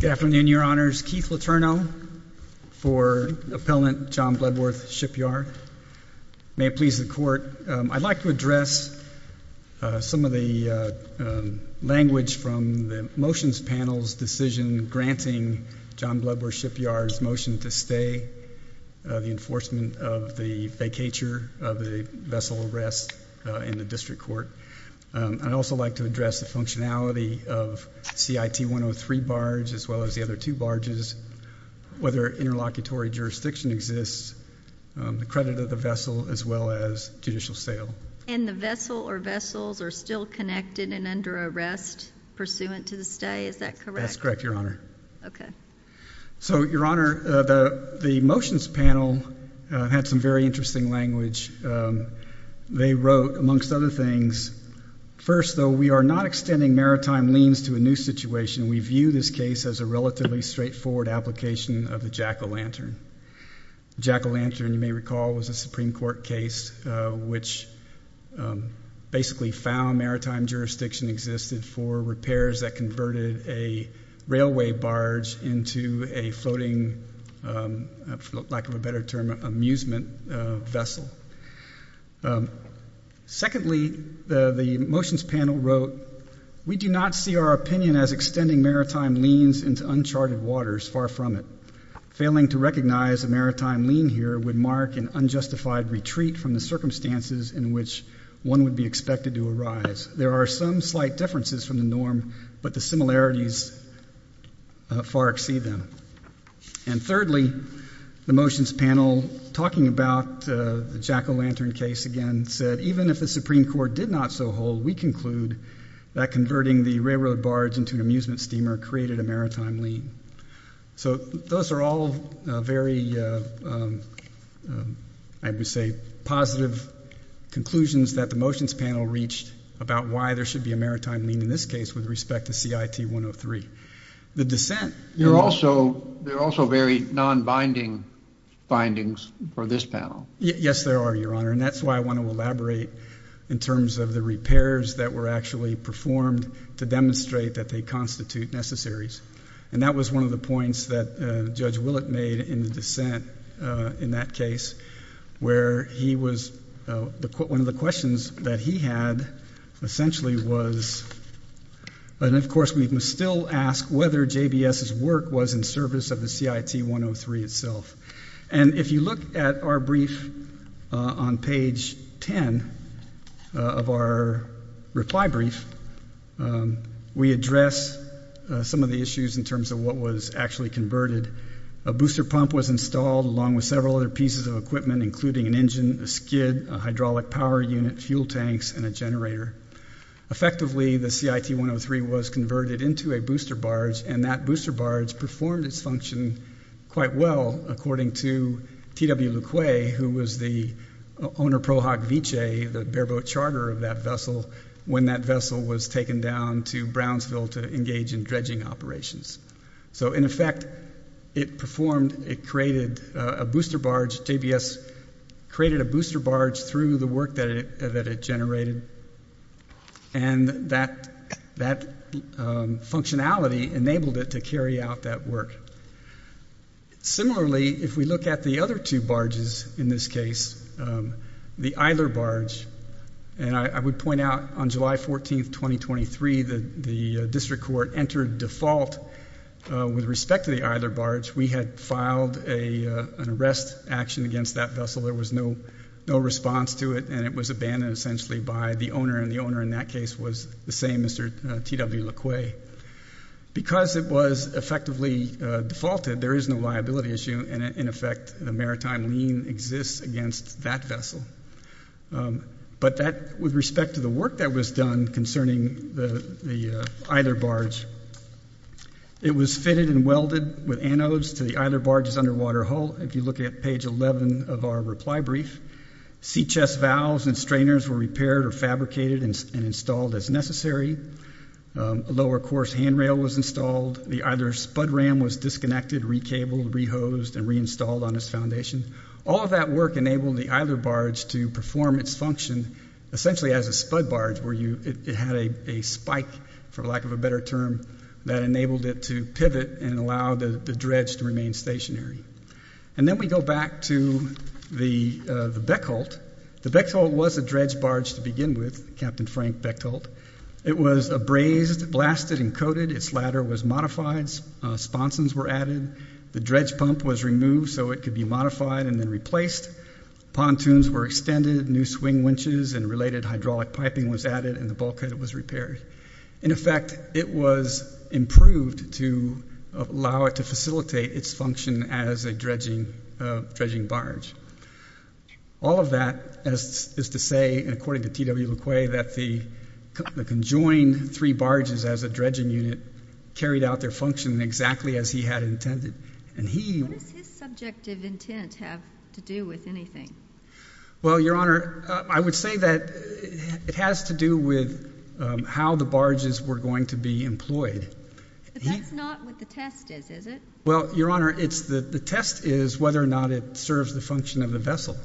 Good afternoon, Your Honors. Keith Letourneau for Appellant John Bludworth, Shipyard. May it please the Court, I'd like to address some of the language from the motions panel's decision granting John Bludworth, Shipyard's motion to stay the enforcement of the vacatur of the vessel arrest in the District Court. I'd also like to address the functionality of CIT 103 barge as well as the other two barges, whether interlocutory jurisdiction exists, the credit of the vessel as well as judicial sale. And the vessel or vessels are still connected and under arrest pursuant to the stay, is that correct? That's correct, Your Honor. Okay. So, Your Honor, the motions panel had some very interesting language. They wrote, amongst other things, first though, we are not extending maritime liens to a new situation. We view this case as a relatively straightforward application of the jack-o-lantern. Jack-o-lantern, you may recall, was a Supreme Court case which basically found maritime jurisdiction existed for repairs that converted a railway barge into a floating, for lack of a better term, amusement vessel. Secondly, the motions panel wrote, we do not see our opinion as extending maritime liens into uncharted waters far from it. Failing to recognize a maritime lien here would mark an unjustified retreat from the circumstances in which one would be expected to arise. There are some slight differences from the norm, but the similarities far exceed them. And thirdly, the motions panel, talking about the jack-o-lantern case again, said, even if the Supreme Court did not so hold, we conclude that converting the railroad barge into an amusement steamer created a maritime lien. So those are all very, I would say, positive conclusions that the motions panel reached about why there should be a maritime lien in this case with respect to CIT-103. The dissent- There are also very non-binding findings for this panel. Yes, there are, Your Honor, and that's why I want to elaborate in terms of the repairs that were actually performed to demonstrate that they constitute necessaries. And that was one of the points that Judge Willett made in the dissent in that case, where he was, one of the questions that he had essentially was, and of course we can still ask whether JBS's work was in service of the CIT-103 itself. And if you look at our brief on page 10 of our reply brief, we address some of the issues in terms of what was actually converted. A booster pump was installed along with several other pieces of equipment, including an engine, a skid, a hydraulic power unit, fuel tanks, and a generator. Effectively, the CIT-103 was converted into a booster barge, and that booster barge performed its function quite well, according to T.W. LeQuay, who was the owner pro hoc vice, the bareboat charter of that vessel, when that vessel was taken down to Brownsville to engage in dredging operations. So, in effect, it performed, it created a booster barge, JBS created a booster barge through the work that it generated, and that functionality enabled it to carry out that work. Similarly, if we look at the other two barges in this case, the Isler barge, and I would point out on July 14, 2023, the district court entered default with respect to the Isler barge. We had filed an arrest action against that vessel. There was no response to it, and it was abandoned essentially by the owner, and the owner in that case was the same, Mr. T.W. LeQuay. Because it was effectively defaulted, there is no liability issue, and in effect, the maritime lien exists against that vessel. But that, with respect to the work that was done concerning the Isler barge, it was fitted and welded with anodes to the Isler barge's underwater hull, if you look at page 11 of our reply brief. Seachess valves and strainers were repaired or fabricated and installed as necessary. A lower course handrail was installed. The Isler spud ram was disconnected, re-cabled, re-hosed, and reinstalled on its foundation. All of that work enabled the Isler barge to perform its function essentially as a spud barge where it had a spike, for lack of a better term, that enabled it to pivot and allow the dredge to remain stationary. And then we go back to the Beckholt. The Beckholt was a dredge barge to begin with, Captain Frank Beckholt. It was abrased, blasted, and coated. Its ladder was modified. Sponsons were added. The dredge pump was removed so it could be modified and then replaced. Pontoons were extended, new swing winches and related hydraulic piping was added, and the bulkhead was repaired. In effect, it was improved to allow it to facilitate its function as a dredging barge. All of that is to say, according to T.W. LeQuay, that the conjoined three barges as a dredging unit carried out their function exactly as he had intended. What does his subjective intent have to do with anything? Well, Your Honor, I would say that it has to do with how the barges were going to be employed. But that's not what the test is, is it? Well, Your Honor, the test is whether or not it serves the function of the vessel.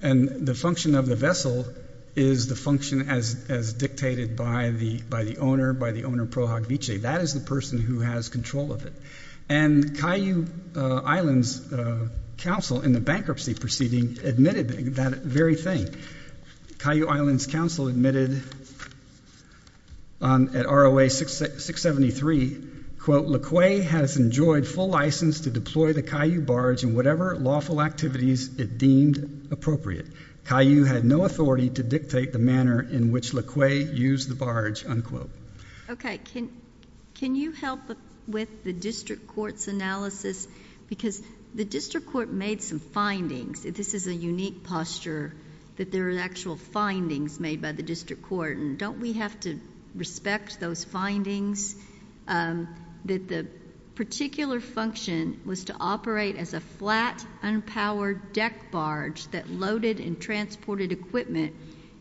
And the function of the vessel is the function as dictated by the owner, by the owner pro hoc vice. That is the person who has control of it. And Caillou Islands Council in the bankruptcy proceeding admitted that very thing. Caillou Islands Council admitted at ROA 673, quote, LeQuay has enjoyed full license to deploy the Caillou barge in whatever lawful activities it deemed appropriate. Caillou had no authority to dictate the manner in which LeQuay used the barge, unquote. Okay. Can you help with the district court's analysis? Because the district court made some findings. This is a unique posture that there are actual findings made by the district court. Don't we have to respect those findings that the particular function was to operate as a flat, unpowered deck barge that loaded and transported equipment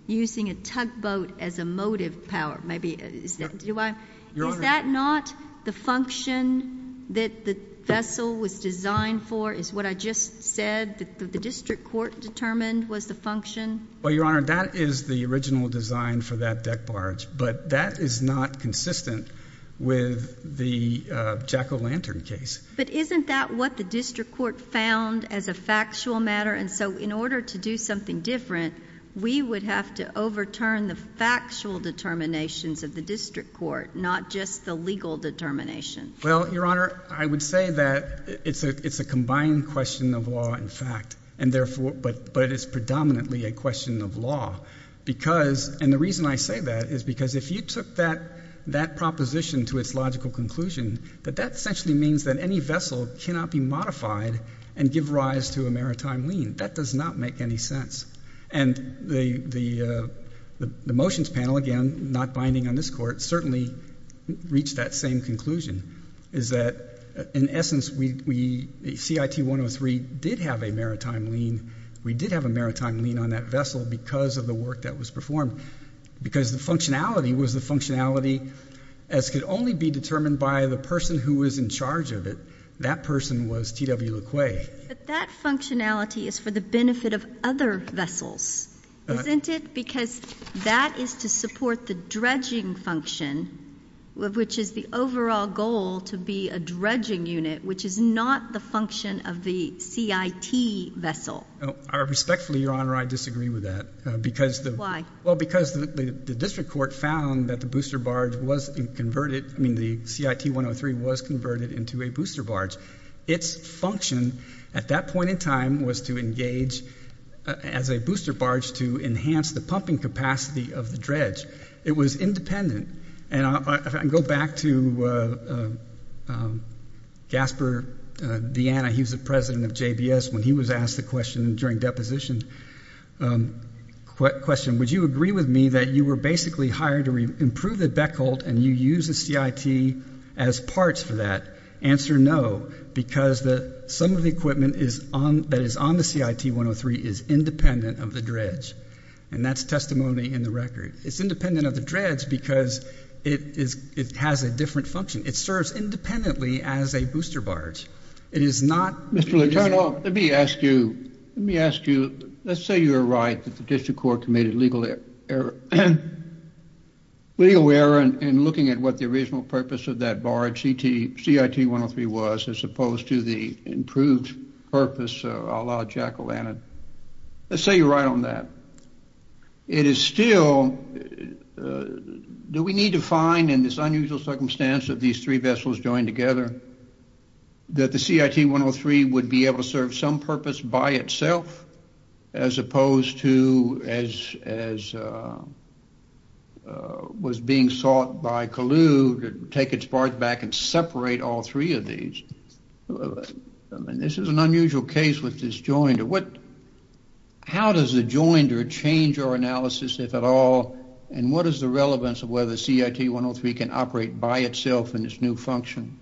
using a tugboat as a motive power, is that not the function that the vessel was designed for, is what I just said that the district court determined was the function? Well, Your Honor, that is the original design for that deck barge, but that is not consistent with the Jack O'Lantern case. But isn't that what the district court found as a factual matter? And so in order to do something different, we would have to overturn the factual determinations of the district court, not just the legal determination. Well, Your Honor, I would say that it's a combined question of law and fact, but it is predominantly a question of law. And the reason I say that is because if you took that proposition to its logical conclusion, that that essentially means that any vessel cannot be modified and give rise to a maritime lien. That does not make any sense. And the motions panel, again, not binding on this court, certainly reached that same conclusion, is that, in essence, CIT 103 did have a maritime lien. We did have a maritime lien on that vessel because of the work that was performed, because the functionality was the functionality, as could only be determined by the person who was in charge of it. That person was T.W. LeQuay. But that functionality is for the benefit of other vessels, isn't it? Because that is to support the dredging function, which is the overall goal to be a dredging unit, which is not the function of the CIT vessel. Respectfully, Your Honor, I disagree with that. Why? Well, because the district court found that the booster barge was converted, I mean the CIT 103 was converted into a booster barge. Its function at that point in time was to engage as a booster barge to enhance the pumping capacity of the dredge. It was independent. And I go back to Gaspar Deanna. He was the president of JBS when he was asked the question during deposition. The question, would you agree with me that you were basically hired to improve the beckled and you use the CIT as parts for that? Answer, no, because some of the equipment that is on the CIT 103 is independent of the dredge. And that's testimony in the record. It's independent of the dredge because it has a different function. It serves independently as a booster barge. Mr. Leutert, let me ask you, let's say you're right that the district court committed legal error in looking at what the original purpose of that barge CIT 103 was as opposed to the improved purpose a la Jack O'Lantern. Let's say you're right on that. It is still, do we need to find in this unusual circumstance of these three vessels joined together, that the CIT 103 would be able to serve some purpose by itself as opposed to as was being sought by Kalu to take its part back and separate all three of these? I mean, this is an unusual case with this jointer. How does the jointer change our analysis, if at all, and what is the relevance of whether CIT 103 can operate by itself in its new function?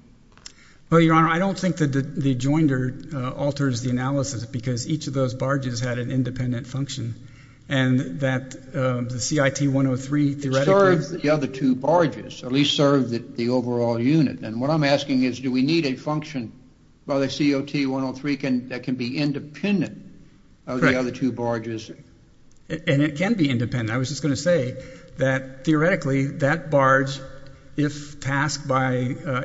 Well, Your Honor, I don't think that the jointer alters the analysis because each of those barges had an independent function, and that the CIT 103 theoretically- It serves the other two barges, at least serves the overall unit. And what I'm asking is, do we need a function by the CIT 103 that can be independent of the other two barges? And it can be independent. I was just going to say that, theoretically, that barge, if tasked by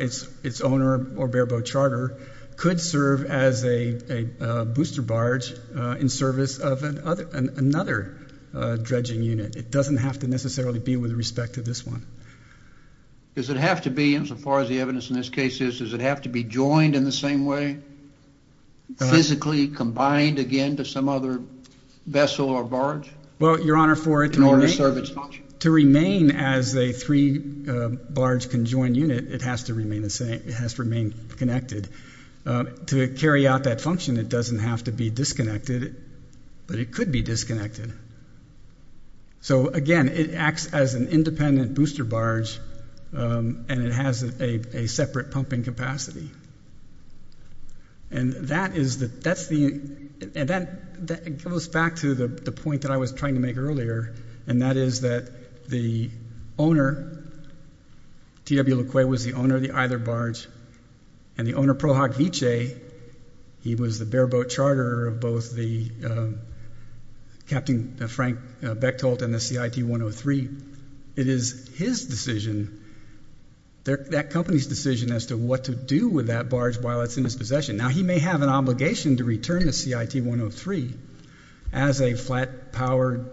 its owner or bare-boat charter, could serve as a booster barge in service of another dredging unit. It doesn't have to necessarily be with respect to this one. Does it have to be, insofar as the evidence in this case is, does it have to be joined in the same way, physically combined again to some other vessel or barge? Well, Your Honor, for it to remain as a three-barge conjoined unit, it has to remain connected. To carry out that function, it doesn't have to be disconnected, but it could be disconnected. So, again, it acts as an independent booster barge, and it has a separate pumping capacity. And that is the- that goes back to the point that I was trying to make earlier, and that is that the owner, T.W. LeQuay, was the owner of the either barge, and the owner, Prohoc Viche, he was the bare-boat charterer of both the Captain Frank Bechtholt and the CIT-103. It is his decision, that company's decision, as to what to do with that barge while it's in his possession. Now, he may have an obligation to return the CIT-103 as a flat-powered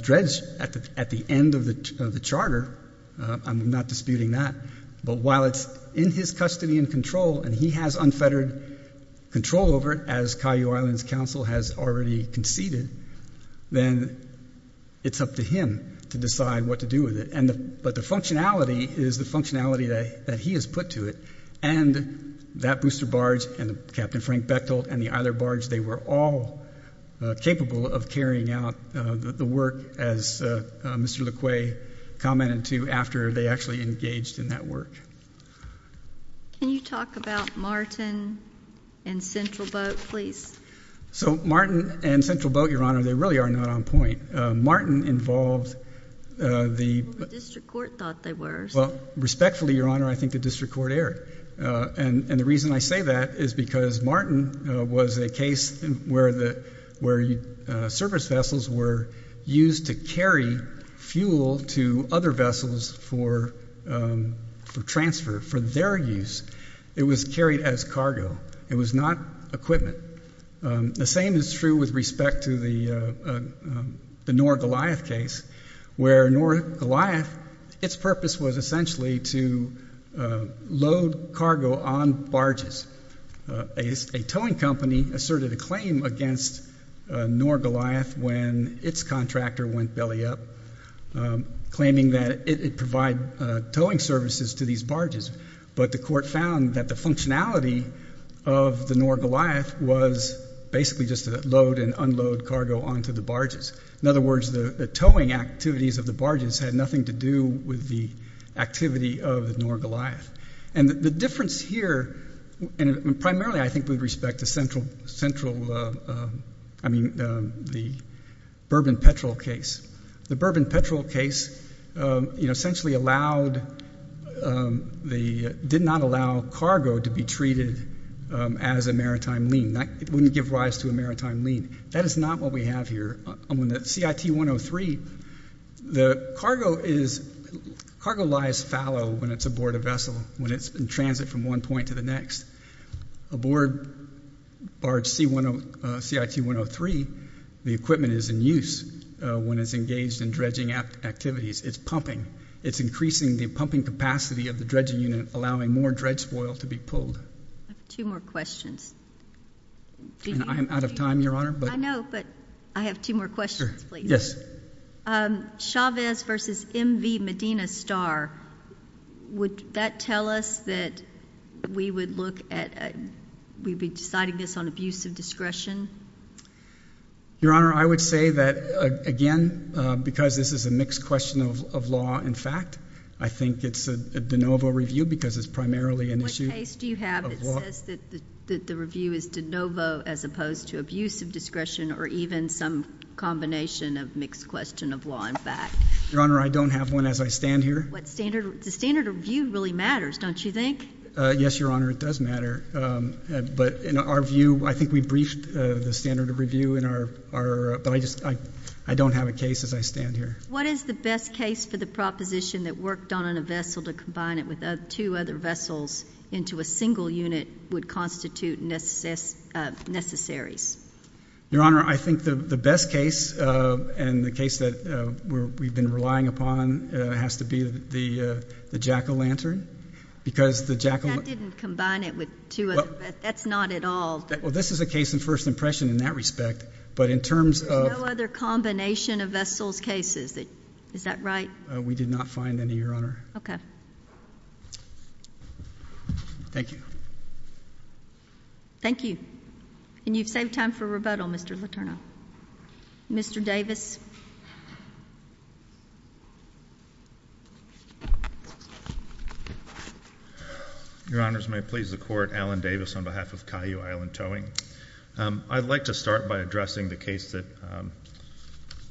dredge at the end of the charter. I'm not disputing that. But while it's in his custody and control, and he has unfettered control over it, as Cayo Islands Council has already conceded, then it's up to him to decide what to do with it. But the functionality is the functionality that he has put to it. And that booster barge and Captain Frank Bechtholt and the either barge, they were all capable of carrying out the work, as Mr. LeQuay commented to, after they actually engaged in that work. Can you talk about Martin and Central Boat, please? So Martin and Central Boat, Your Honor, they really are not on point. Martin involved the- Well, the district court thought they were. Well, respectfully, Your Honor, I think the district court erred. And the reason I say that is because Martin was a case where service vessels were used to carry fuel to other vessels for transfer, for their use. It was carried as cargo. It was not equipment. The same is true with respect to the Noor-Goliath case, where Noor-Goliath, its purpose was essentially to load cargo on barges. A towing company asserted a claim against Noor-Goliath when its contractor went belly up, claiming that it would provide towing services to these barges. But the court found that the functionality of the Noor-Goliath was basically just to load and unload cargo onto the barges. In other words, the towing activities of the barges had nothing to do with the activity of the Noor-Goliath. And the difference here, and primarily I think with respect to central-I mean the bourbon-petrol case. The bourbon-petrol case essentially allowed the-did not allow cargo to be treated as a maritime lien. It wouldn't give rise to a maritime lien. That is not what we have here. On the CIT-103, the cargo is-cargo lies fallow when it's aboard a vessel, when it's in transit from one point to the next. Aboard CIT-103, the equipment is in use when it's engaged in dredging activities. It's pumping. It's increasing the pumping capacity of the dredging unit, allowing more dredge spoil to be pulled. I have two more questions. I am out of time, Your Honor. I know, but I have two more questions, please. Chavez v. M.V. Medina Starr, would that tell us that we would look at-we'd be deciding this on abuse of discretion? Your Honor, I would say that, again, because this is a mixed question of law and fact, I think it's a de novo review because it's primarily an issue of law. What case do you have that says that the review is de novo as opposed to abuse of discretion or even some combination of mixed question of law and fact? Your Honor, I don't have one as I stand here. What standard-the standard of review really matters, don't you think? Yes, Your Honor, it does matter. But in our view, I think we briefed the standard of review in our-but I just-I don't have a case as I stand here. What is the best case for the proposition that worked on a vessel to combine it with two other vessels into a single unit would constitute necessaries? Your Honor, I think the best case and the case that we've been relying upon has to be the jack-o'-lantern because the jack-o'-lantern- That didn't combine it with two other-that's not at all- Well, this is a case in first impression in that respect, but in terms of- Is that right? We did not find any, Your Honor. Okay. Thank you. Thank you. And you've saved time for rebuttal, Mr. Letourneau. Mr. Davis. Your Honors, may it please the Court, Alan Davis on behalf of Cayu Island Towing. I'd like to start by addressing the case that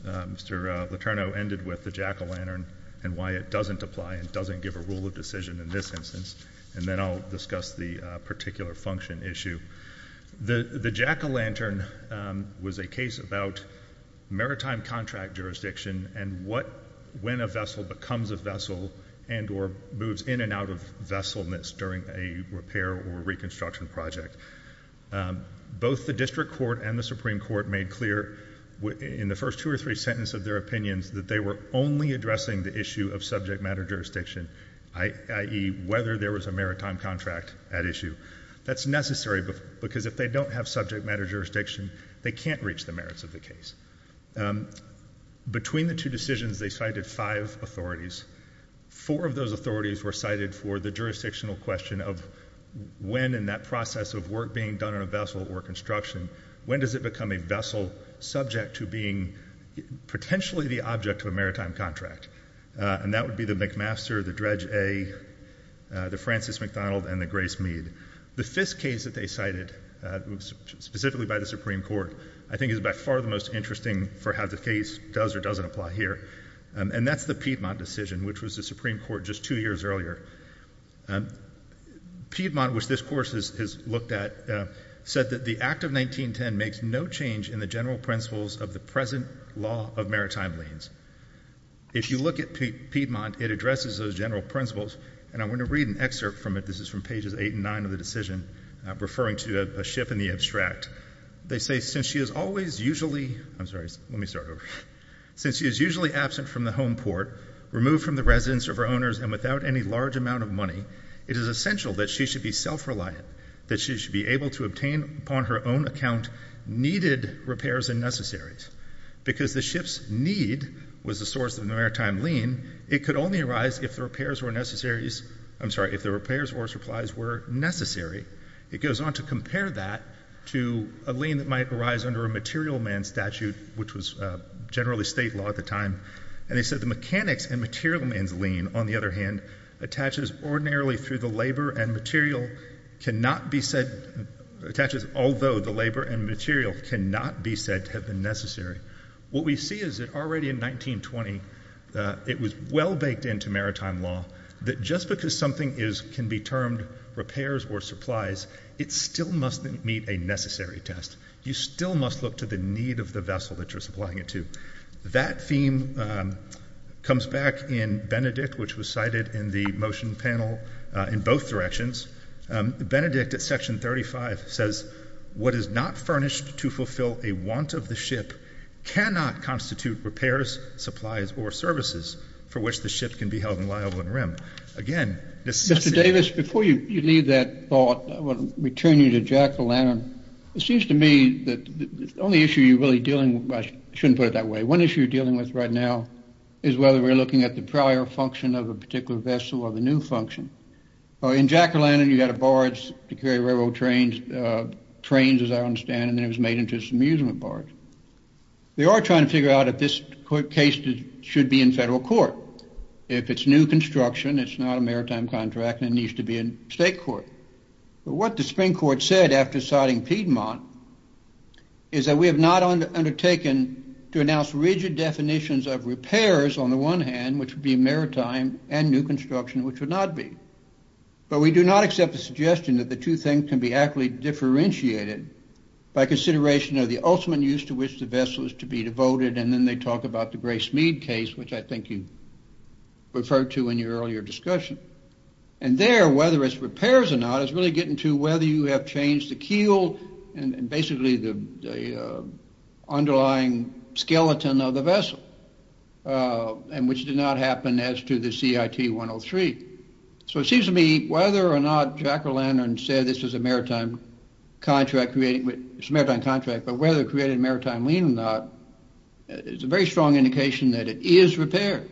Mr. Letourneau ended with, the jack-o'-lantern, and why it doesn't apply and doesn't give a rule of decision in this instance. And then I'll discuss the particular function issue. The jack-o'-lantern was a case about maritime contract jurisdiction and what-when a vessel becomes a vessel and or moves in and out of vesselness during a repair or reconstruction project. Both the District Court and the Supreme Court made clear in the first two or three sentences of their opinions that they were only addressing the issue of subject matter jurisdiction, i.e., whether there was a maritime contract at issue. That's necessary because if they don't have subject matter jurisdiction, they can't reach the merits of the case. Between the two decisions, they cited five authorities. Four of those authorities were cited for the jurisdictional question of when in that process of work being done on a vessel or construction, when does it become a vessel subject to being potentially the object of a maritime contract? And that would be the McMaster, the Dredge A, the Francis McDonald, and the Grace Mead. The fifth case that they cited, specifically by the Supreme Court, I think is by far the most interesting for how the case does or doesn't apply here, and that's the Piedmont decision, which was the Supreme Court just two years earlier. Piedmont, which this course has looked at, said that the Act of 1910 makes no change in the general principles of the present law of maritime liens. If you look at Piedmont, it addresses those general principles, and I'm going to read an excerpt from it. Referring to a ship in the abstract, they say, Since she is usually absent from the home port, removed from the residence of her owners, and without any large amount of money, it is essential that she should be self-reliant, that she should be able to obtain upon her own account needed repairs and necessaries. Because the ship's need was the source of the maritime lien, it could only arise if the repairs or supplies were necessary. It goes on to compare that to a lien that might arise under a material man statute, which was generally state law at the time. And they said, What we see is that already in 1920, it was well baked into maritime law that just because something can be termed repairs or supplies, it still must meet a necessary test. You still must look to the need of the vessel that you're supplying it to. That theme comes back in Benedict, which was cited in the motion panel in both directions. Benedict, at section 35, says, What is not furnished to fulfill a want of the ship cannot constitute repairs, supplies, or services for which the ship can be held in liable and rim. Again, necessity. Mr. Davis, before you leave that thought, I want to return you to Jack O'Lantern. It seems to me that the only issue you're really dealing with, I shouldn't put it that way, one issue you're dealing with right now is whether we're looking at the prior function of a particular vessel or the new function. In Jack O'Lantern, you had a barge to carry railroad trains, as I understand, and then it was made into an amusement barge. They are trying to figure out if this case should be in federal court. If it's new construction, it's not a maritime contract, it needs to be in state court. What the Supreme Court said after citing Piedmont is that we have not undertaken to announce rigid definitions of repairs on the one hand, which would be maritime, and new construction, which would not be. But we do not accept the suggestion that the two things can be accurately differentiated by consideration of the ultimate use to which the vessel is to be devoted, and then they talk about the Grace Mead case, which I think you referred to in your earlier discussion. And there, whether it's repairs or not, is really getting to whether you have changed the keel, and basically the underlying skeleton of the vessel, and which did not happen as to the CIT 103. So it seems to me, whether or not Jack O'Lantern said this is a maritime contract, but whether it created a maritime lien or not, it's a very strong indication that it is repairs,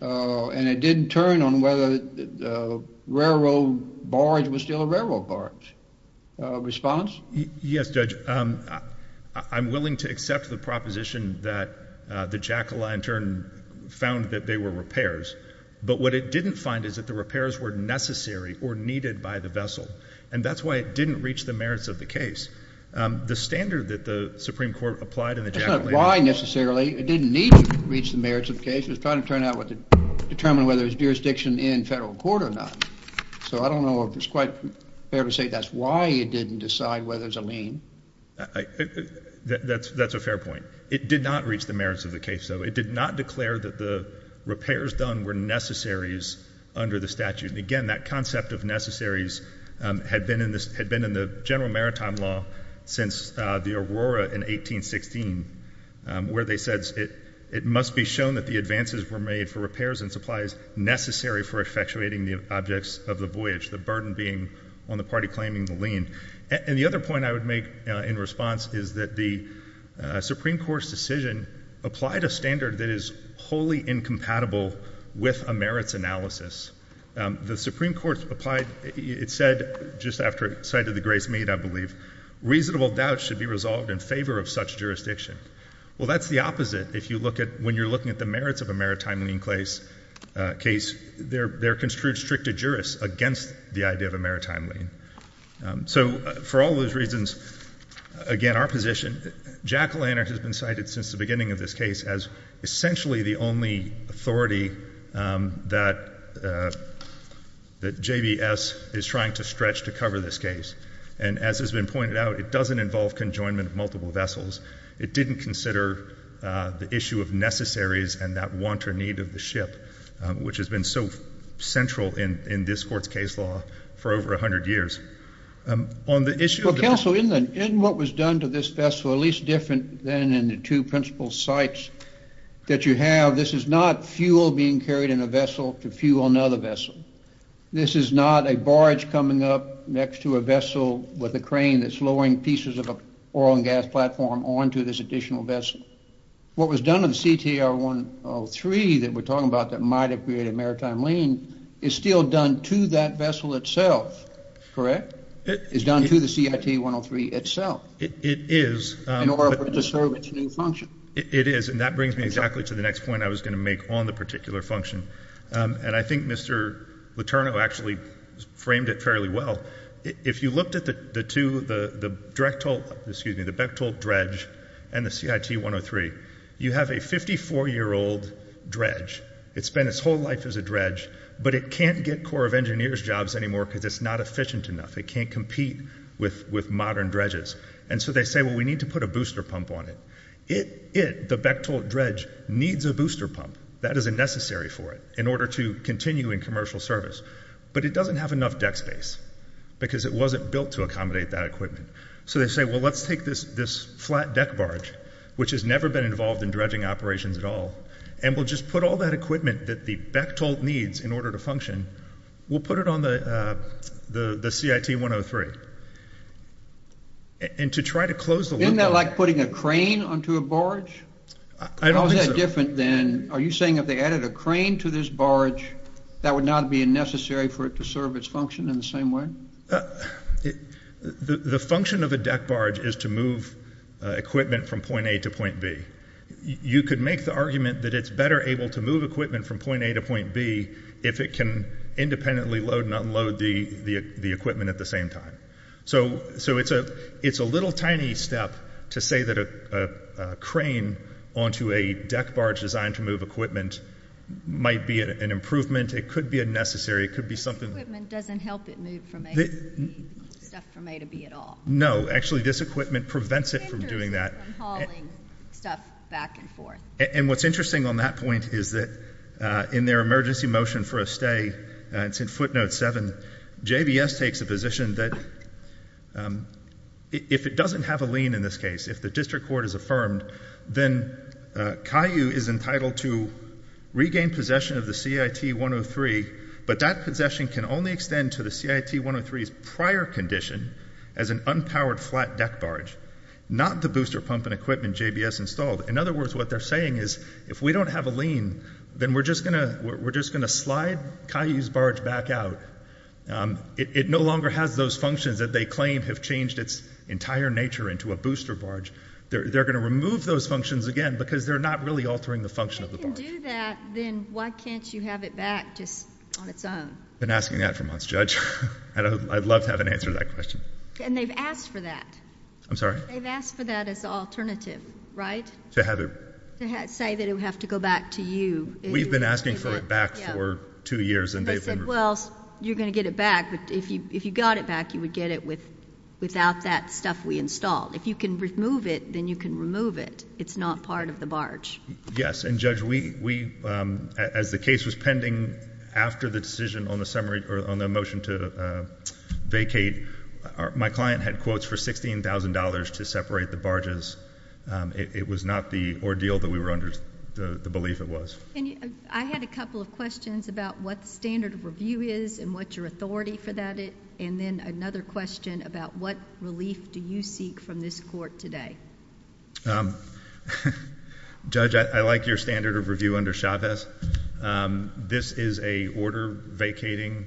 and it didn't turn on whether the railroad barge was still a railroad barge. Response? Yes, Judge. I'm willing to accept the proposition that the Jack O'Lantern found that they were repairs, but what it didn't find is that the repairs were necessary or needed by the vessel, and that's why it didn't reach the merits of the case. The standard that the Supreme Court applied in the Jack O'Lantern case... It's not why necessarily. It didn't need to reach the merits of the case. It was trying to determine whether there was jurisdiction in federal court or not. So I don't know if it's quite fair to say that's why it didn't decide whether there's a lien. That's a fair point. It did not reach the merits of the case, though. It did not declare that the repairs done were necessaries under the statute. And, again, that concept of necessaries had been in the general maritime law since the Aurora in 1816, where they said it must be shown that the advances were made for repairs and supplies necessary for effectuating the objects of the voyage, the burden being on the party claiming the lien. And the other point I would make in response is that the Supreme Court's decision applied a standard that is wholly incompatible with a merits analysis. The Supreme Court applied... It said, just after it cited the grace made, I believe, reasonable doubts should be resolved in favor of such jurisdiction. Well, that's the opposite. If you look at... When you're looking at the merits of a maritime lien case, there are constricted jurists against the idea of a maritime lien. So for all those reasons, again, our position, Jack O'Lantern has been cited since the beginning of this case as essentially the only authority that JBS is trying to stretch to cover this case. And as has been pointed out, it doesn't involve conjoinment of multiple vessels. It didn't consider the issue of necessaries and that want or need of the ship, which has been so central in this court's case law for over 100 years. Well, counsel, in what was done to this vessel, at least different than in the two principal sites that you have, this is not fuel being carried in a vessel to fuel another vessel. This is not a barge coming up next to a vessel with a crane that's lowering pieces of an oil and gas platform onto this additional vessel. What was done in CTR 103 that we're talking about that might have created a maritime lien is still done to that vessel itself, correct? It's done to the CIT 103 itself. It is. In order for it to serve its new function. It is, and that brings me exactly to the next point I was going to make on the particular function. And I think Mr. Letourneau actually framed it fairly well. If you looked at the Bechtolt dredge and the CIT 103, you have a 54-year-old dredge. It spent its whole life as a dredge, but it can't get Corps of Engineers jobs anymore because it's not efficient enough. It can't compete with modern dredges. And so they say, well, we need to put a booster pump on it. It, the Bechtolt dredge, needs a booster pump. That is a necessary for it in order to continue in commercial service. But it doesn't have enough deck space because it wasn't built to accommodate that equipment. So they say, well, let's take this flat deck barge, which has never been involved in dredging operations at all, and we'll just put all that equipment that the Bechtolt needs in order to function. We'll put it on the CIT 103. And to try to close the loop on it. Isn't that like putting a crane onto a barge? I don't think so. How is that different than, are you saying if they added a crane to this barge, that would not be necessary for it to serve its function in the same way? The function of a deck barge is to move equipment from point A to point B. You could make the argument that it's better able to move equipment from point A to point B if it can independently load and unload the equipment at the same time. So it's a little tiny step to say that a crane onto a deck barge designed to move equipment might be an improvement. It could be a necessary. It could be something. This equipment doesn't help it move from A to B, stuff from A to B at all. No. Actually, this equipment prevents it from doing that. It hinders it from hauling stuff back and forth. And what's interesting on that point is that in their emergency motion for a stay, it's in footnote 7, JBS takes a position that if it doesn't have a lien in this case, if the district court is affirmed, then CAIU is entitled to regain possession of the CIT 103, but that possession can only extend to the CIT 103's prior condition as an unpowered flat deck barge, not the booster pump and equipment JBS installed. In other words, what they're saying is if we don't have a lien, then we're just going to slide CAIU's barge back out. It no longer has those functions that they claim have changed its entire nature into a booster barge. They're going to remove those functions again because they're not really altering the function of the barge. If they can do that, then why can't you have it back just on its own? I've been asking that for months, Judge. I'd love to have an answer to that question. And they've asked for that. I'm sorry? They've asked for that as an alternative, right? To have it. To say that it would have to go back to you. We've been asking for it back for two years, and they've been removed. They said, well, you're going to get it back, but if you got it back, you would get it without that stuff we installed. If you can remove it, then you can remove it. It's not part of the barge. Yes, and Judge, as the case was pending after the decision on the motion to vacate, my client had quotes for $16,000 to separate the barges. It was not the ordeal that we were under, the belief it was. I had a couple of questions about what the standard of review is and what your authority for that is, and then another question about what relief do you seek from this court today? Judge, I like your standard of review under Chavez. This is a order vacating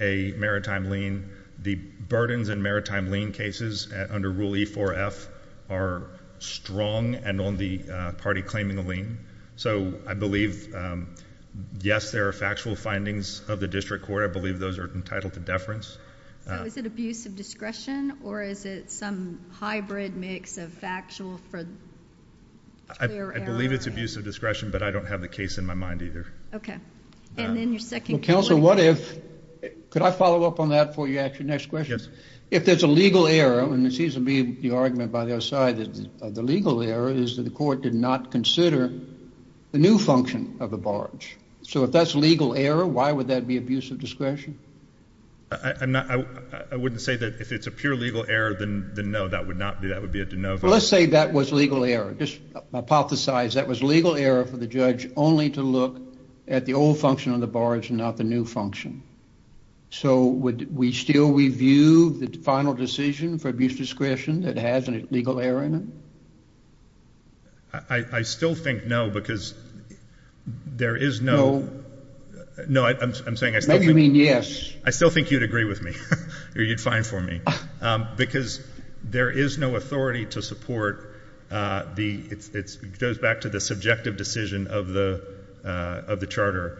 a maritime lien. The burdens in maritime lien cases under Rule E-4-F are strong and on the party claiming the lien. So I believe, yes, there are factual findings of the district court. I believe those are entitled to deference. So is it abuse of discretion, or is it some hybrid mix of factual for clear error? I believe it's abuse of discretion, but I don't have the case in my mind either. Okay. And then your second point. Well, Counselor, what if... Could I follow up on that before you ask your next question? Yes. If there's a legal error, and it seems to be the argument by the other side of the legal error, is that the court did not consider the new function of the barge. So if that's legal error, why would that be abuse of discretion? I wouldn't say that if it's a pure legal error, then no, that would not be. That would be a de novo. Well, let's say that was legal error. Just hypothesize that was legal error for the judge only to look at the old function of the barge and not the new function. So would we still review the final decision for abuse of discretion that has a legal error in it? I still think no, because there is no... No, I'm saying... Maybe you mean yes. I still think you'd agree with me, or you'd find for me, because there is no authority to support the... It goes back to the subjective decision of the Charter.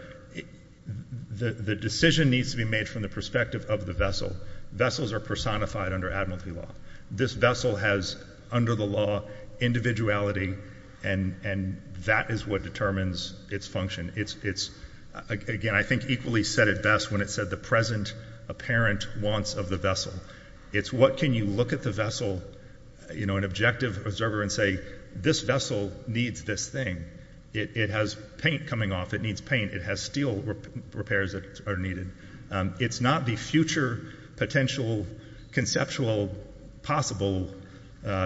The decision needs to be made from the perspective of the vessel. Vessels are personified under admiralty law. This vessel has, under the law, individuality, and that is what determines its function. Again, I think equally said it best when it said the present apparent wants of the vessel. It's what can you look at the vessel, an objective observer, and say, this vessel needs this thing. It has paint coming off. It needs paint. It has steel repairs that are needed. It's not the future, potential, conceptual, possible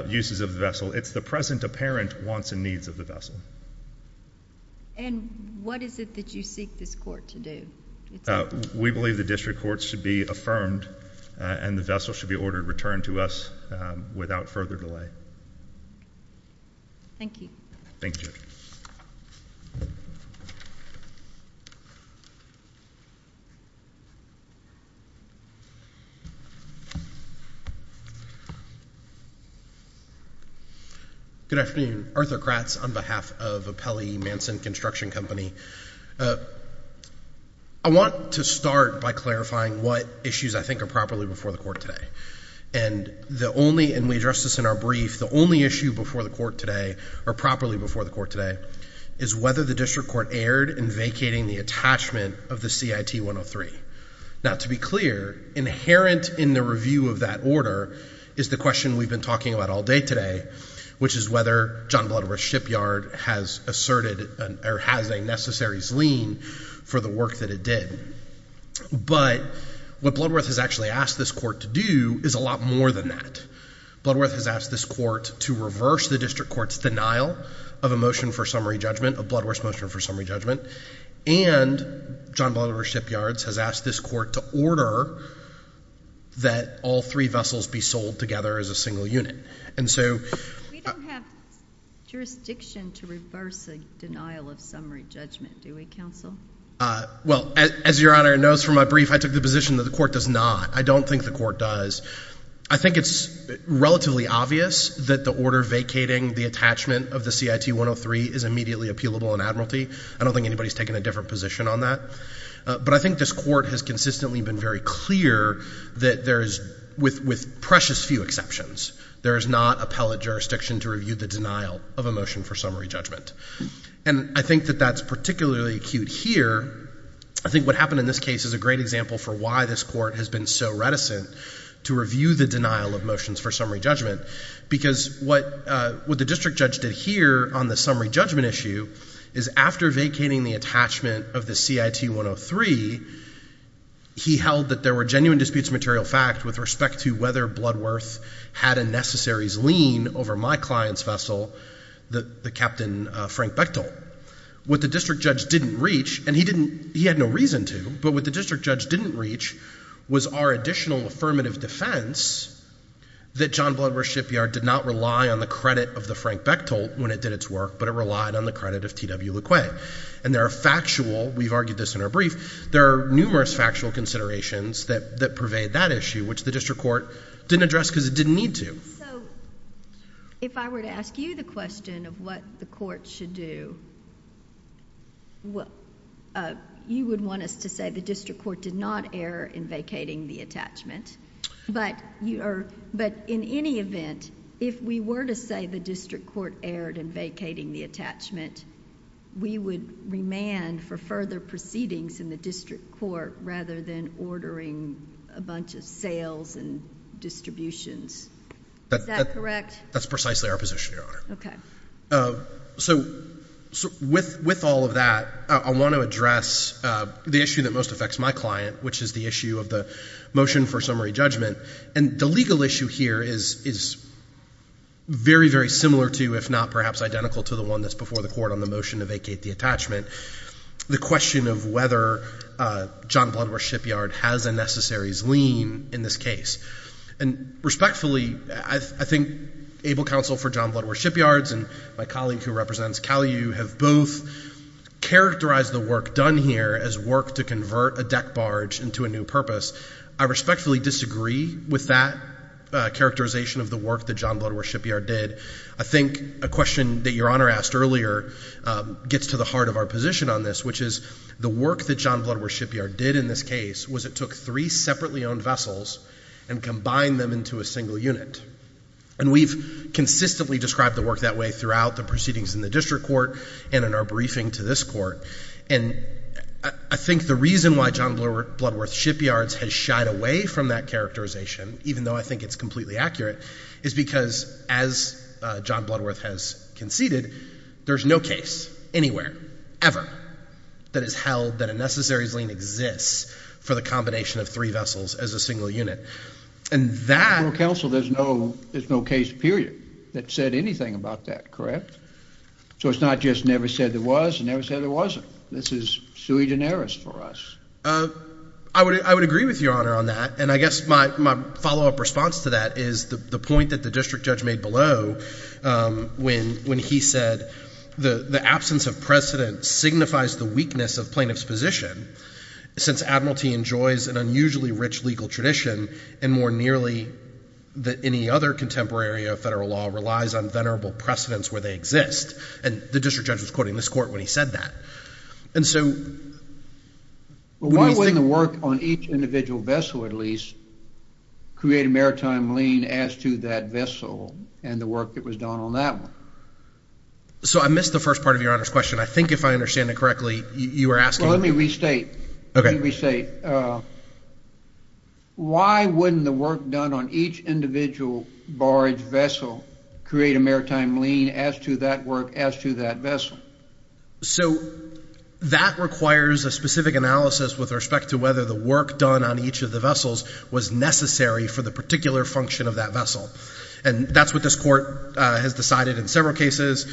uses of the vessel. It's the present apparent wants and needs of the vessel. And what is it that you seek this court to do? We believe the district courts should be affirmed, and the vessel should be ordered returned to us without further delay. Thank you. Thank you, Judge. Good afternoon. Arthur Kratz on behalf of Appelli Manson Construction Company. I want to start by clarifying what issues I think are properly before the court today. And the only, and we addressed this in our brief, the only issue before the court today, or properly before the court today, is whether the district court erred in vacating the attachment of the CIT 103. Now, to be clear, inherent in the review of that order is the question we've been talking about all day today, which is whether John Bloodworth's shipyard has asserted, or has a necessary lien for the work that it did. But what Bloodworth has actually asked this court to do is a lot more than that. Bloodworth has asked this court to reverse the district court's denial of a motion for summary judgment, of Bloodworth's motion for summary judgment, and John Bloodworth's shipyards has asked this court to order that all three vessels be sold together as a single unit. And so— We don't have jurisdiction to reverse a denial of summary judgment, do we, counsel? Well, as Your Honor knows from my brief, I took the position that the court does not. I don't think the court does. I think it's relatively obvious that the order vacating the attachment of the CIT 103 is immediately appealable in admiralty. I don't think anybody's taken a different position on that. But I think this court has consistently been very clear that there is, with precious few exceptions, there is not appellate jurisdiction to review the denial of a motion for summary judgment. And I think that that's particularly acute here. I think what happened in this case is a great example for why this court has been so reticent to review the denial of motions for summary judgment. Because what the district judge did here on the summary judgment issue is after vacating the attachment of the CIT 103, he held that there were genuine disputes of material fact with respect to whether Bloodworth had a necessaries lien over my client's vessel, the Captain Frank Bechtol. What the district judge didn't reach, and he had no reason to, but what the district judge didn't reach was our additional affirmative defense that John Bloodworth Shipyard did not rely on the credit of the Frank Bechtol when it did its work, but it relied on the credit of T.W. LeQuay. And there are factual, we've argued this in our brief, there are numerous factual considerations that pervade that issue, which the district court didn't address because it didn't need to. So if I were to ask you the question of what the court should do, you would want us to say the district court did not err in vacating the attachment, but in any event, if we were to say the district court erred in vacating the attachment, we would remand for further proceedings in the district court rather than ordering a bunch of sales and distributions. Is that correct? That's precisely our position, Your Honor. Okay. So with all of that, I want to address the issue that most affects my client, which is the issue of the motion for summary judgment. And the legal issue here is very, very similar to, if not perhaps identical to, the one that's before the court on the motion to vacate the attachment, the question of whether John Bloodworth Shipyard has a necessaries lien in this case. And respectfully, I think Able Counsel for John Bloodworth Shipyards and my colleague who represents Cal U have both characterized the work done here as work to convert a deck barge into a new purpose. I respectfully disagree with that characterization of the work that John Bloodworth Shipyard did. I think a question that Your Honor asked earlier gets to the heart of our position on this, which is the work that John Bloodworth Shipyard did in this case was it took three separately owned vessels and combined them into a single unit. And we've consistently described the work that way throughout the proceedings in the district court and in our briefing to this court. And I think the reason why John Bloodworth Shipyards has shied away from that characterization, even though I think it's completely accurate, is because as John Bloodworth has conceded, there's no case anywhere, ever, that has held that a necessaries lien exists for the combination of three vessels as a single unit. In Able Counsel, there's no case, period, that said anything about that, correct? So it's not just never said there was, it's never said there wasn't. This is sui generis for us. I would agree with Your Honor on that. And I guess my follow-up response to that is the point that the district judge made below when he said the absence of precedent signifies the weakness of plaintiff's position since Admiralty enjoys an unusually rich legal tradition and more nearly that any other contemporary area of federal law relies on venerable precedents where they exist. And the district judge was quoting this court when he said that. And so... Well, why wouldn't the work on each individual vessel, at least, create a maritime lien as to that vessel and the work that was done on that one? So I missed the first part of Your Honor's question. I think if I understand it correctly, you were asking... Well, let me restate. Okay. Let me restate. Why wouldn't the work done on each individual barge vessel create a maritime lien as to that work as to that vessel? So that requires a specific analysis with respect to whether the work done on each of the vessels was necessary for the particular function of that vessel. And that's what this court has decided in several cases.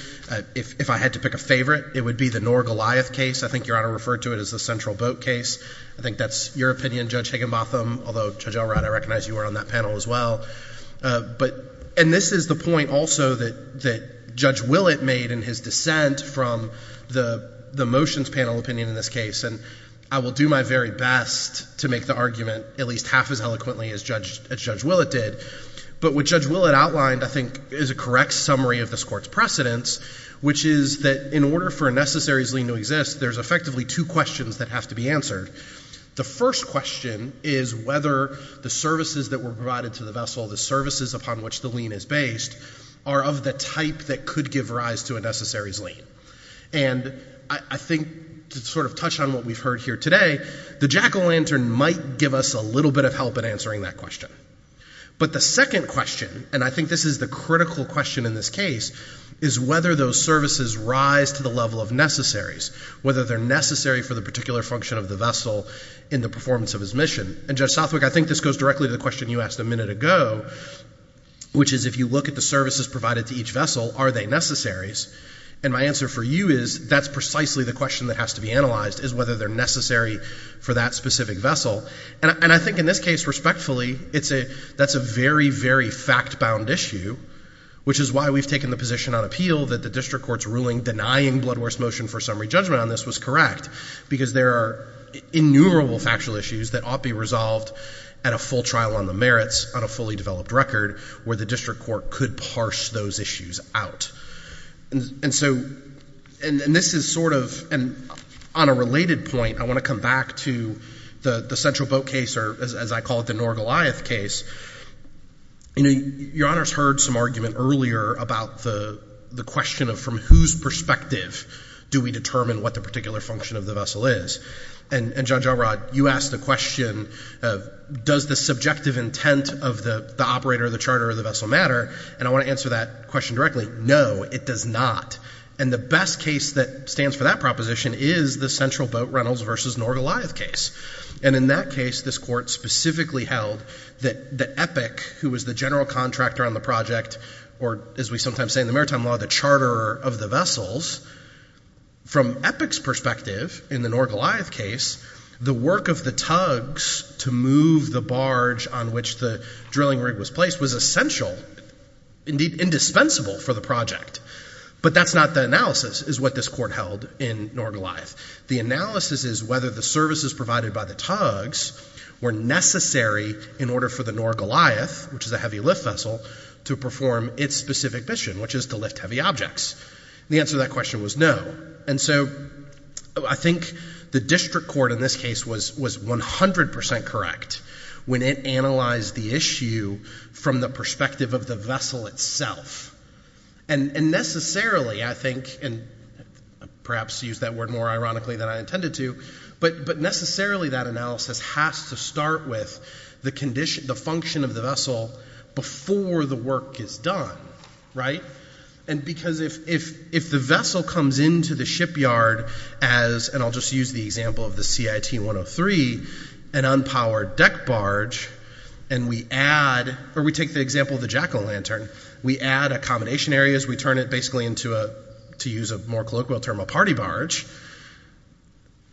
If I had to pick a favorite, it would be the Norr Goliath case. I think Your Honor referred to it as the Central Boat case. I think that's your opinion, Judge Higginbotham. Although, Judge Elrod, I recognize you were on that panel as well. And this is the point also that Judge Willett made in his dissent from the motions panel opinion in this case. And I will do my very best to make the argument at least half as eloquently as Judge Willett did. But what Judge Willett outlined, I think, is a correct summary of this court's precedents, which is that in order for a necessaries lien to exist, there's effectively two questions that have to be answered. The first question is whether the services that were provided to the vessel, the services upon which the lien is based, are of the type that could give rise to a necessaries lien. And I think to sort of touch on what we've heard here today, the jack-o'-lantern might give us a little bit of help in answering that question. But the second question, and I think this is the critical question in this case, is whether those services rise to the level of necessaries, whether they're necessary for the particular function of the vessel in the performance of its mission. And, Judge Southwick, I think this goes directly to the question you asked a minute ago, which is if you look at the services provided to each vessel, are they necessaries? And my answer for you is that's precisely the question that has to be analyzed, is whether they're necessary for that specific vessel. And I think in this case, respectfully, that's a very, very fact-bound issue, which is why we've taken the position on appeal that the district court's ruling denying Bloodworth's motion for summary judgment on this was correct, because there are innumerable factual issues that ought to be resolved at a full trial on the merits, on a fully developed record, where the district court could parse those issues out. And so, and this is sort of, and on a related point, I want to come back to the Central Boat case, or as I call it, the Norgoliath case. Your Honor's heard some argument earlier about the question of, from whose perspective do we determine what the particular function of the vessel is? And, Judge Elrod, you asked the question, does the subjective intent of the operator of the charter of the vessel matter? And I want to answer that question directly. No, it does not. And the best case that stands for that proposition is the Central Boat, Reynolds v. Norgoliath case. And in that case, this court specifically held that Epic, who was the general contractor on the project, or as we sometimes say in the maritime law, the charterer of the vessels, from Epic's perspective, in the Norgoliath case, the work of the tugs to move the barge on which the drilling rig was placed was essential, indeed, indispensable for the project. But that's not the analysis, is what this court held in Norgoliath. The analysis is whether the services provided by the tugs were necessary in order for the Norgoliath, which is a heavy lift vessel, to perform its specific mission, which is to lift heavy objects. And the answer to that question was no. And so I think the district court in this case was 100% correct when it analyzed the issue from the perspective of the vessel itself. And necessarily, I think, and perhaps to use that word more ironically than I intended to, but necessarily that analysis has to start with the function of the vessel before the work is done, right? And because if the vessel comes into the shipyard as, and I'll just use the example of the CIT 103, an unpowered deck barge, and we add, or we take the example of the jack-o'-lantern, we add accommodation areas, we turn it basically into a, to use a more colloquial term, a party barge,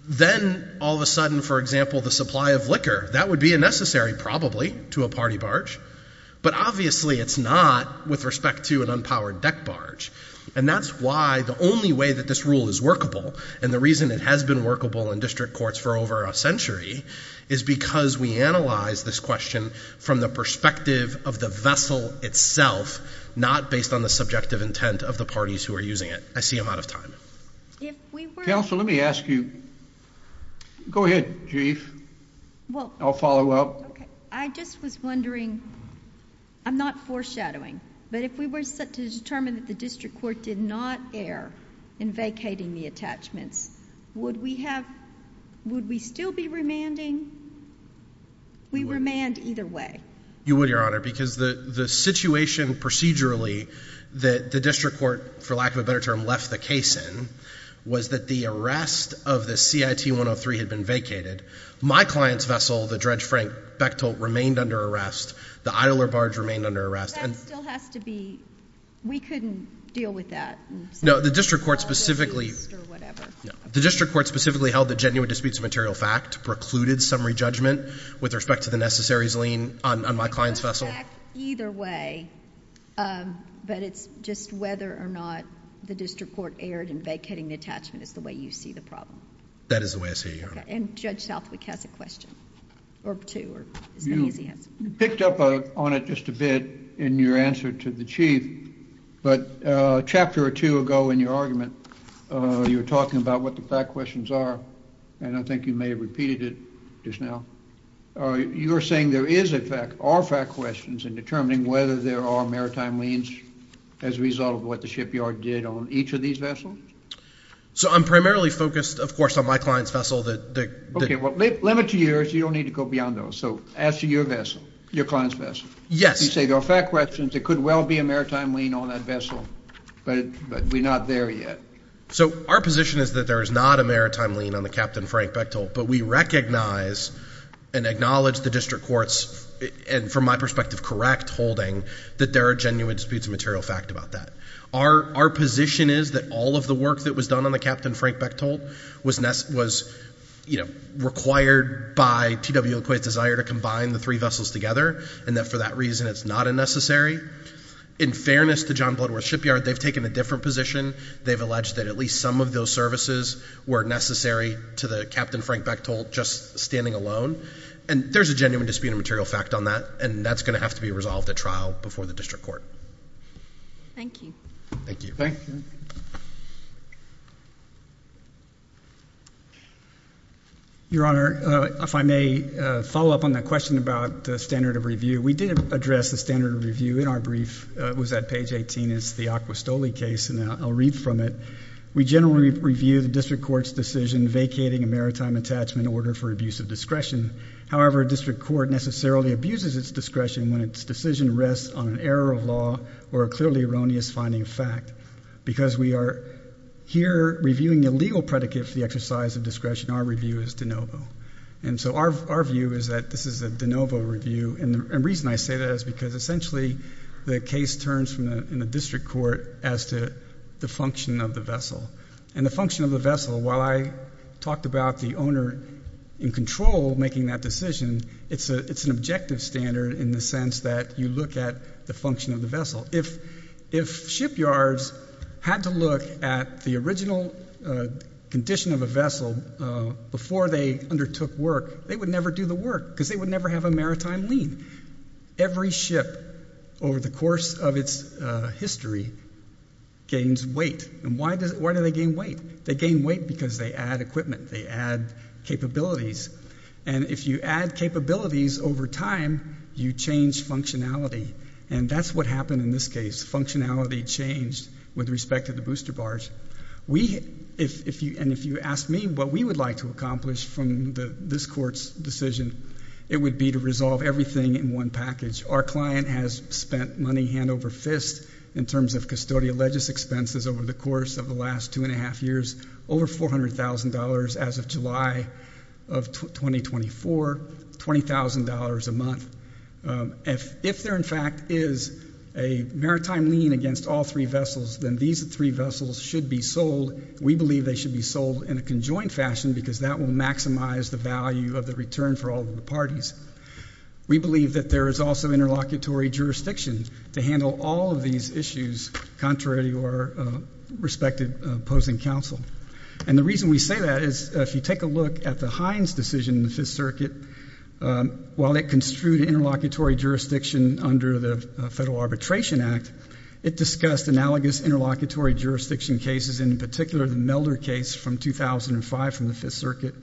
then all of a sudden, for example, the supply of liquor, that would be a necessary probably to a party barge, but obviously it's not with respect to an unpowered deck barge. And that's why the only way that this rule is workable, and the reason it has been workable in district courts for over a century, is because we analyze this question from the perspective of the vessel itself, not based on the subjective intent of the parties who are using it. I see I'm out of time. Counsel, let me ask you. Go ahead, Jeeve. I'll follow up. I just was wondering, I'm not foreshadowing, but if we were to determine that the district court did not err in vacating the attachments, would we still be remanding? We remand either way. You would, Your Honor, because the situation procedurally that the district court, for lack of a better term, left the case in was that the arrest of the CIT 103 had been vacated. My client's vessel, the Dredge Frank Bechtel, remained under arrest. The idler barge remained under arrest. That still has to be, we couldn't deal with that. No, the district court specifically held that genuine disputes of material fact precluded summary judgment with respect to the necessaries lien on my client's vessel. Either way, but it's just whether or not the district court erred in vacating the attachment is the way you see the problem. That is the way I see it, Your Honor. Judge Southwick has a question or two or as many as he has. You picked up on it just a bit in your answer to the Chief, but a chapter or two ago in your argument, you were talking about what the fact questions are, and I think you may have repeated it just now. You are saying there is, in fact, are fact questions in determining whether there are maritime liens as a result of what the shipyard did on each of these vessels? So I'm primarily focused, of course, on my client's vessel. Okay, well, the limit to you is you don't need to go beyond those. So as to your vessel, your client's vessel. Yes. You say there are fact questions. There could well be a maritime lien on that vessel, but we're not there yet. So our position is that there is not a maritime lien on the Captain Frank Bechtold, but we recognize and acknowledge the district court's, and from my perspective, correct holding, that there are genuine disputes of material fact about that. Our position is that all of the work that was done on the Captain Frank Bechtold was, you know, In fairness to John Bloodworth Shipyard, they've taken a different position. They've alleged that at least some of those services were necessary to the Captain Frank Bechtold just standing alone, and there's a genuine dispute of material fact on that, and that's going to have to be resolved at trial before the district court. Thank you. Thank you. Thank you. Your Honor, if I may follow up on that question about the standard of review. We did address the standard of review in our brief. It was at page 18. It's the Aquistoli case, and I'll read from it. We generally review the district court's decision vacating a maritime attachment order for abuse of discretion. However, a district court necessarily abuses its discretion when its decision rests on an error of law or a clearly erroneous finding of fact, because we are here reviewing a legal predicate for the exercise of discretion. Our review is de novo. And so our view is that this is a de novo review, and the reason I say that is because essentially the case turns in the district court as to the function of the vessel. And the function of the vessel, while I talked about the owner in control making that decision, it's an objective standard in the sense that you look at the function of the vessel. If shipyards had to look at the original condition of a vessel before they undertook work, they would never do the work because they would never have a maritime lien. Every ship over the course of its history gains weight. And why do they gain weight? They gain weight because they add equipment. They add capabilities. And if you add capabilities over time, you change functionality. And that's what happened in this case. Functionality changed with respect to the booster bars. And if you ask me what we would like to accomplish from this court's decision, it would be to resolve everything in one package. Our client has spent money hand over fist in terms of custodial legis expenses over the course of the last two and a half years, over $400,000 as of July of 2024, $20,000 a month. If there, in fact, is a maritime lien against all three vessels, then these three vessels should be sold. We believe they should be sold in a conjoined fashion because that will maximize the value of the return for all the parties. We believe that there is also interlocutory jurisdiction to handle all of these issues, contrary to our respective opposing counsel. And the reason we say that is if you take a look at the Hines decision in the Fifth Circuit, while it construed interlocutory jurisdiction under the Federal Arbitration Act, it discussed analogous interlocutory jurisdiction cases, in particular the Melder case from 2005 from the Fifth Circuit,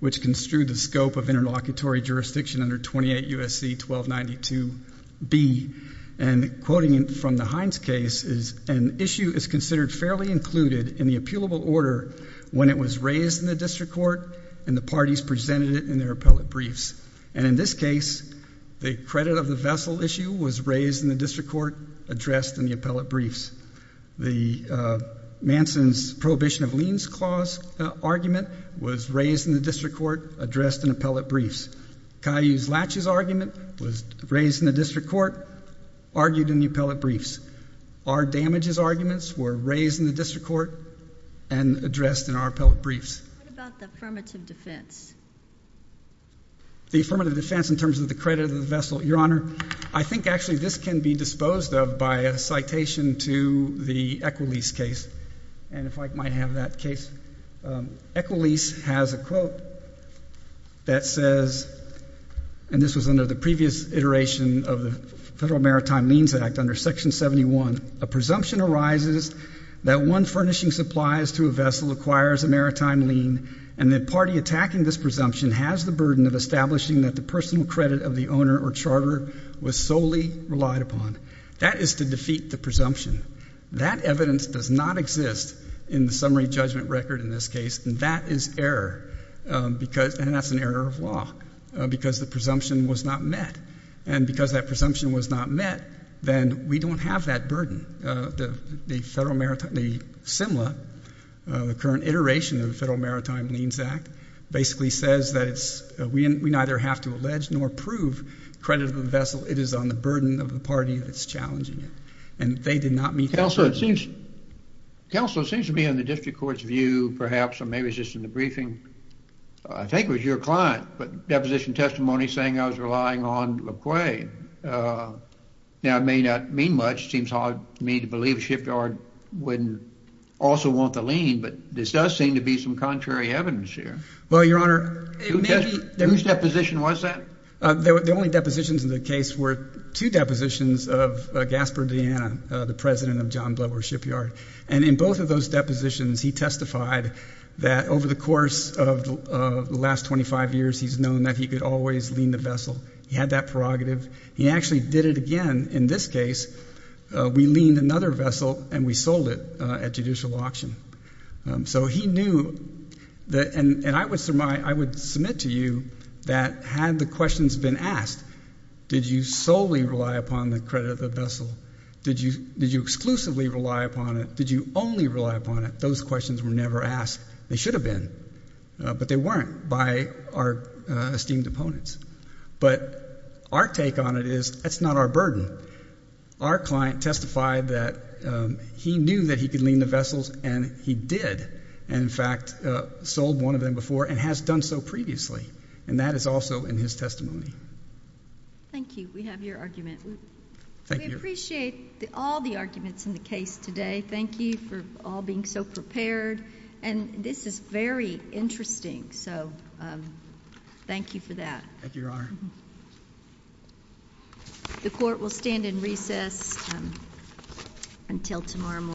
which construed the scope of interlocutory jurisdiction under 28 U.S.C. 1292b. And quoting from the Hines case is, an issue is considered fairly included in the appealable order when it was raised in the district court and the parties presented it in their appellate briefs. And in this case, the credit of the vessel issue was raised in the district court, addressed in the appellate briefs. The Manson's prohibition of liens clause argument was raised in the district court, addressed in appellate briefs. Caillou's latches argument was raised in the district court, argued in the appellate briefs. Our damages arguments were raised in the district court and addressed in our appellate briefs. What about the affirmative defense? The affirmative defense in terms of the credit of the vessel, Your Honor, I think actually this can be disposed of by a citation to the Equalese case. And if I might have that case. Equalese has a quote that says, and this was under the previous iteration of the Federal Maritime Liens Act under Section 71, a presumption arises that one furnishing supplies to a vessel acquires a maritime lien and the party attacking this presumption has the burden of establishing that the personal credit of the owner or charter was solely relied upon. That is to defeat the presumption. That evidence does not exist in the summary judgment record in this case, and that is error because, and that's an error of law, because the presumption was not met. And because that presumption was not met, then we don't have that burden. The Simla, the current iteration of the Federal Maritime Liens Act, basically says that we neither have to allege nor prove credit of the vessel. It is on the burden of the party that's challenging it. And they did not meet that burden. Counsel, it seems to me in the district court's view, perhaps, or maybe it's just in the briefing, I think it was your client, but deposition testimony saying I was relying on LaCroix. Now, it may not mean much. It seems hard to me to believe the shipyard wouldn't also want the lien, but this does seem to be some contrary evidence here. Well, Your Honor. Whose deposition was that? The only depositions in the case were two depositions of Gaspard Deanna, the president of John Bloor Shipyard. And in both of those depositions, he testified that over the course of the last 25 years, he's known that he could always lien the vessel. He had that prerogative. He actually did it again in this case. We liened another vessel and we sold it at judicial auction. So he knew, and I would submit to you that had the questions been asked, did you solely rely upon the credit of the vessel? Did you exclusively rely upon it? Did you only rely upon it? Those questions were never asked. They should have been, but they weren't by our esteemed opponents. But our take on it is that's not our burden. Our client testified that he knew that he could lien the vessels, and he did. And, in fact, sold one of them before and has done so previously, and that is also in his testimony. Thank you. We have your argument. We appreciate all the arguments in the case today. Thank you for all being so prepared. And this is very interesting, so thank you for that. Thank you, Your Honor. The court will stand in recess until tomorrow morning.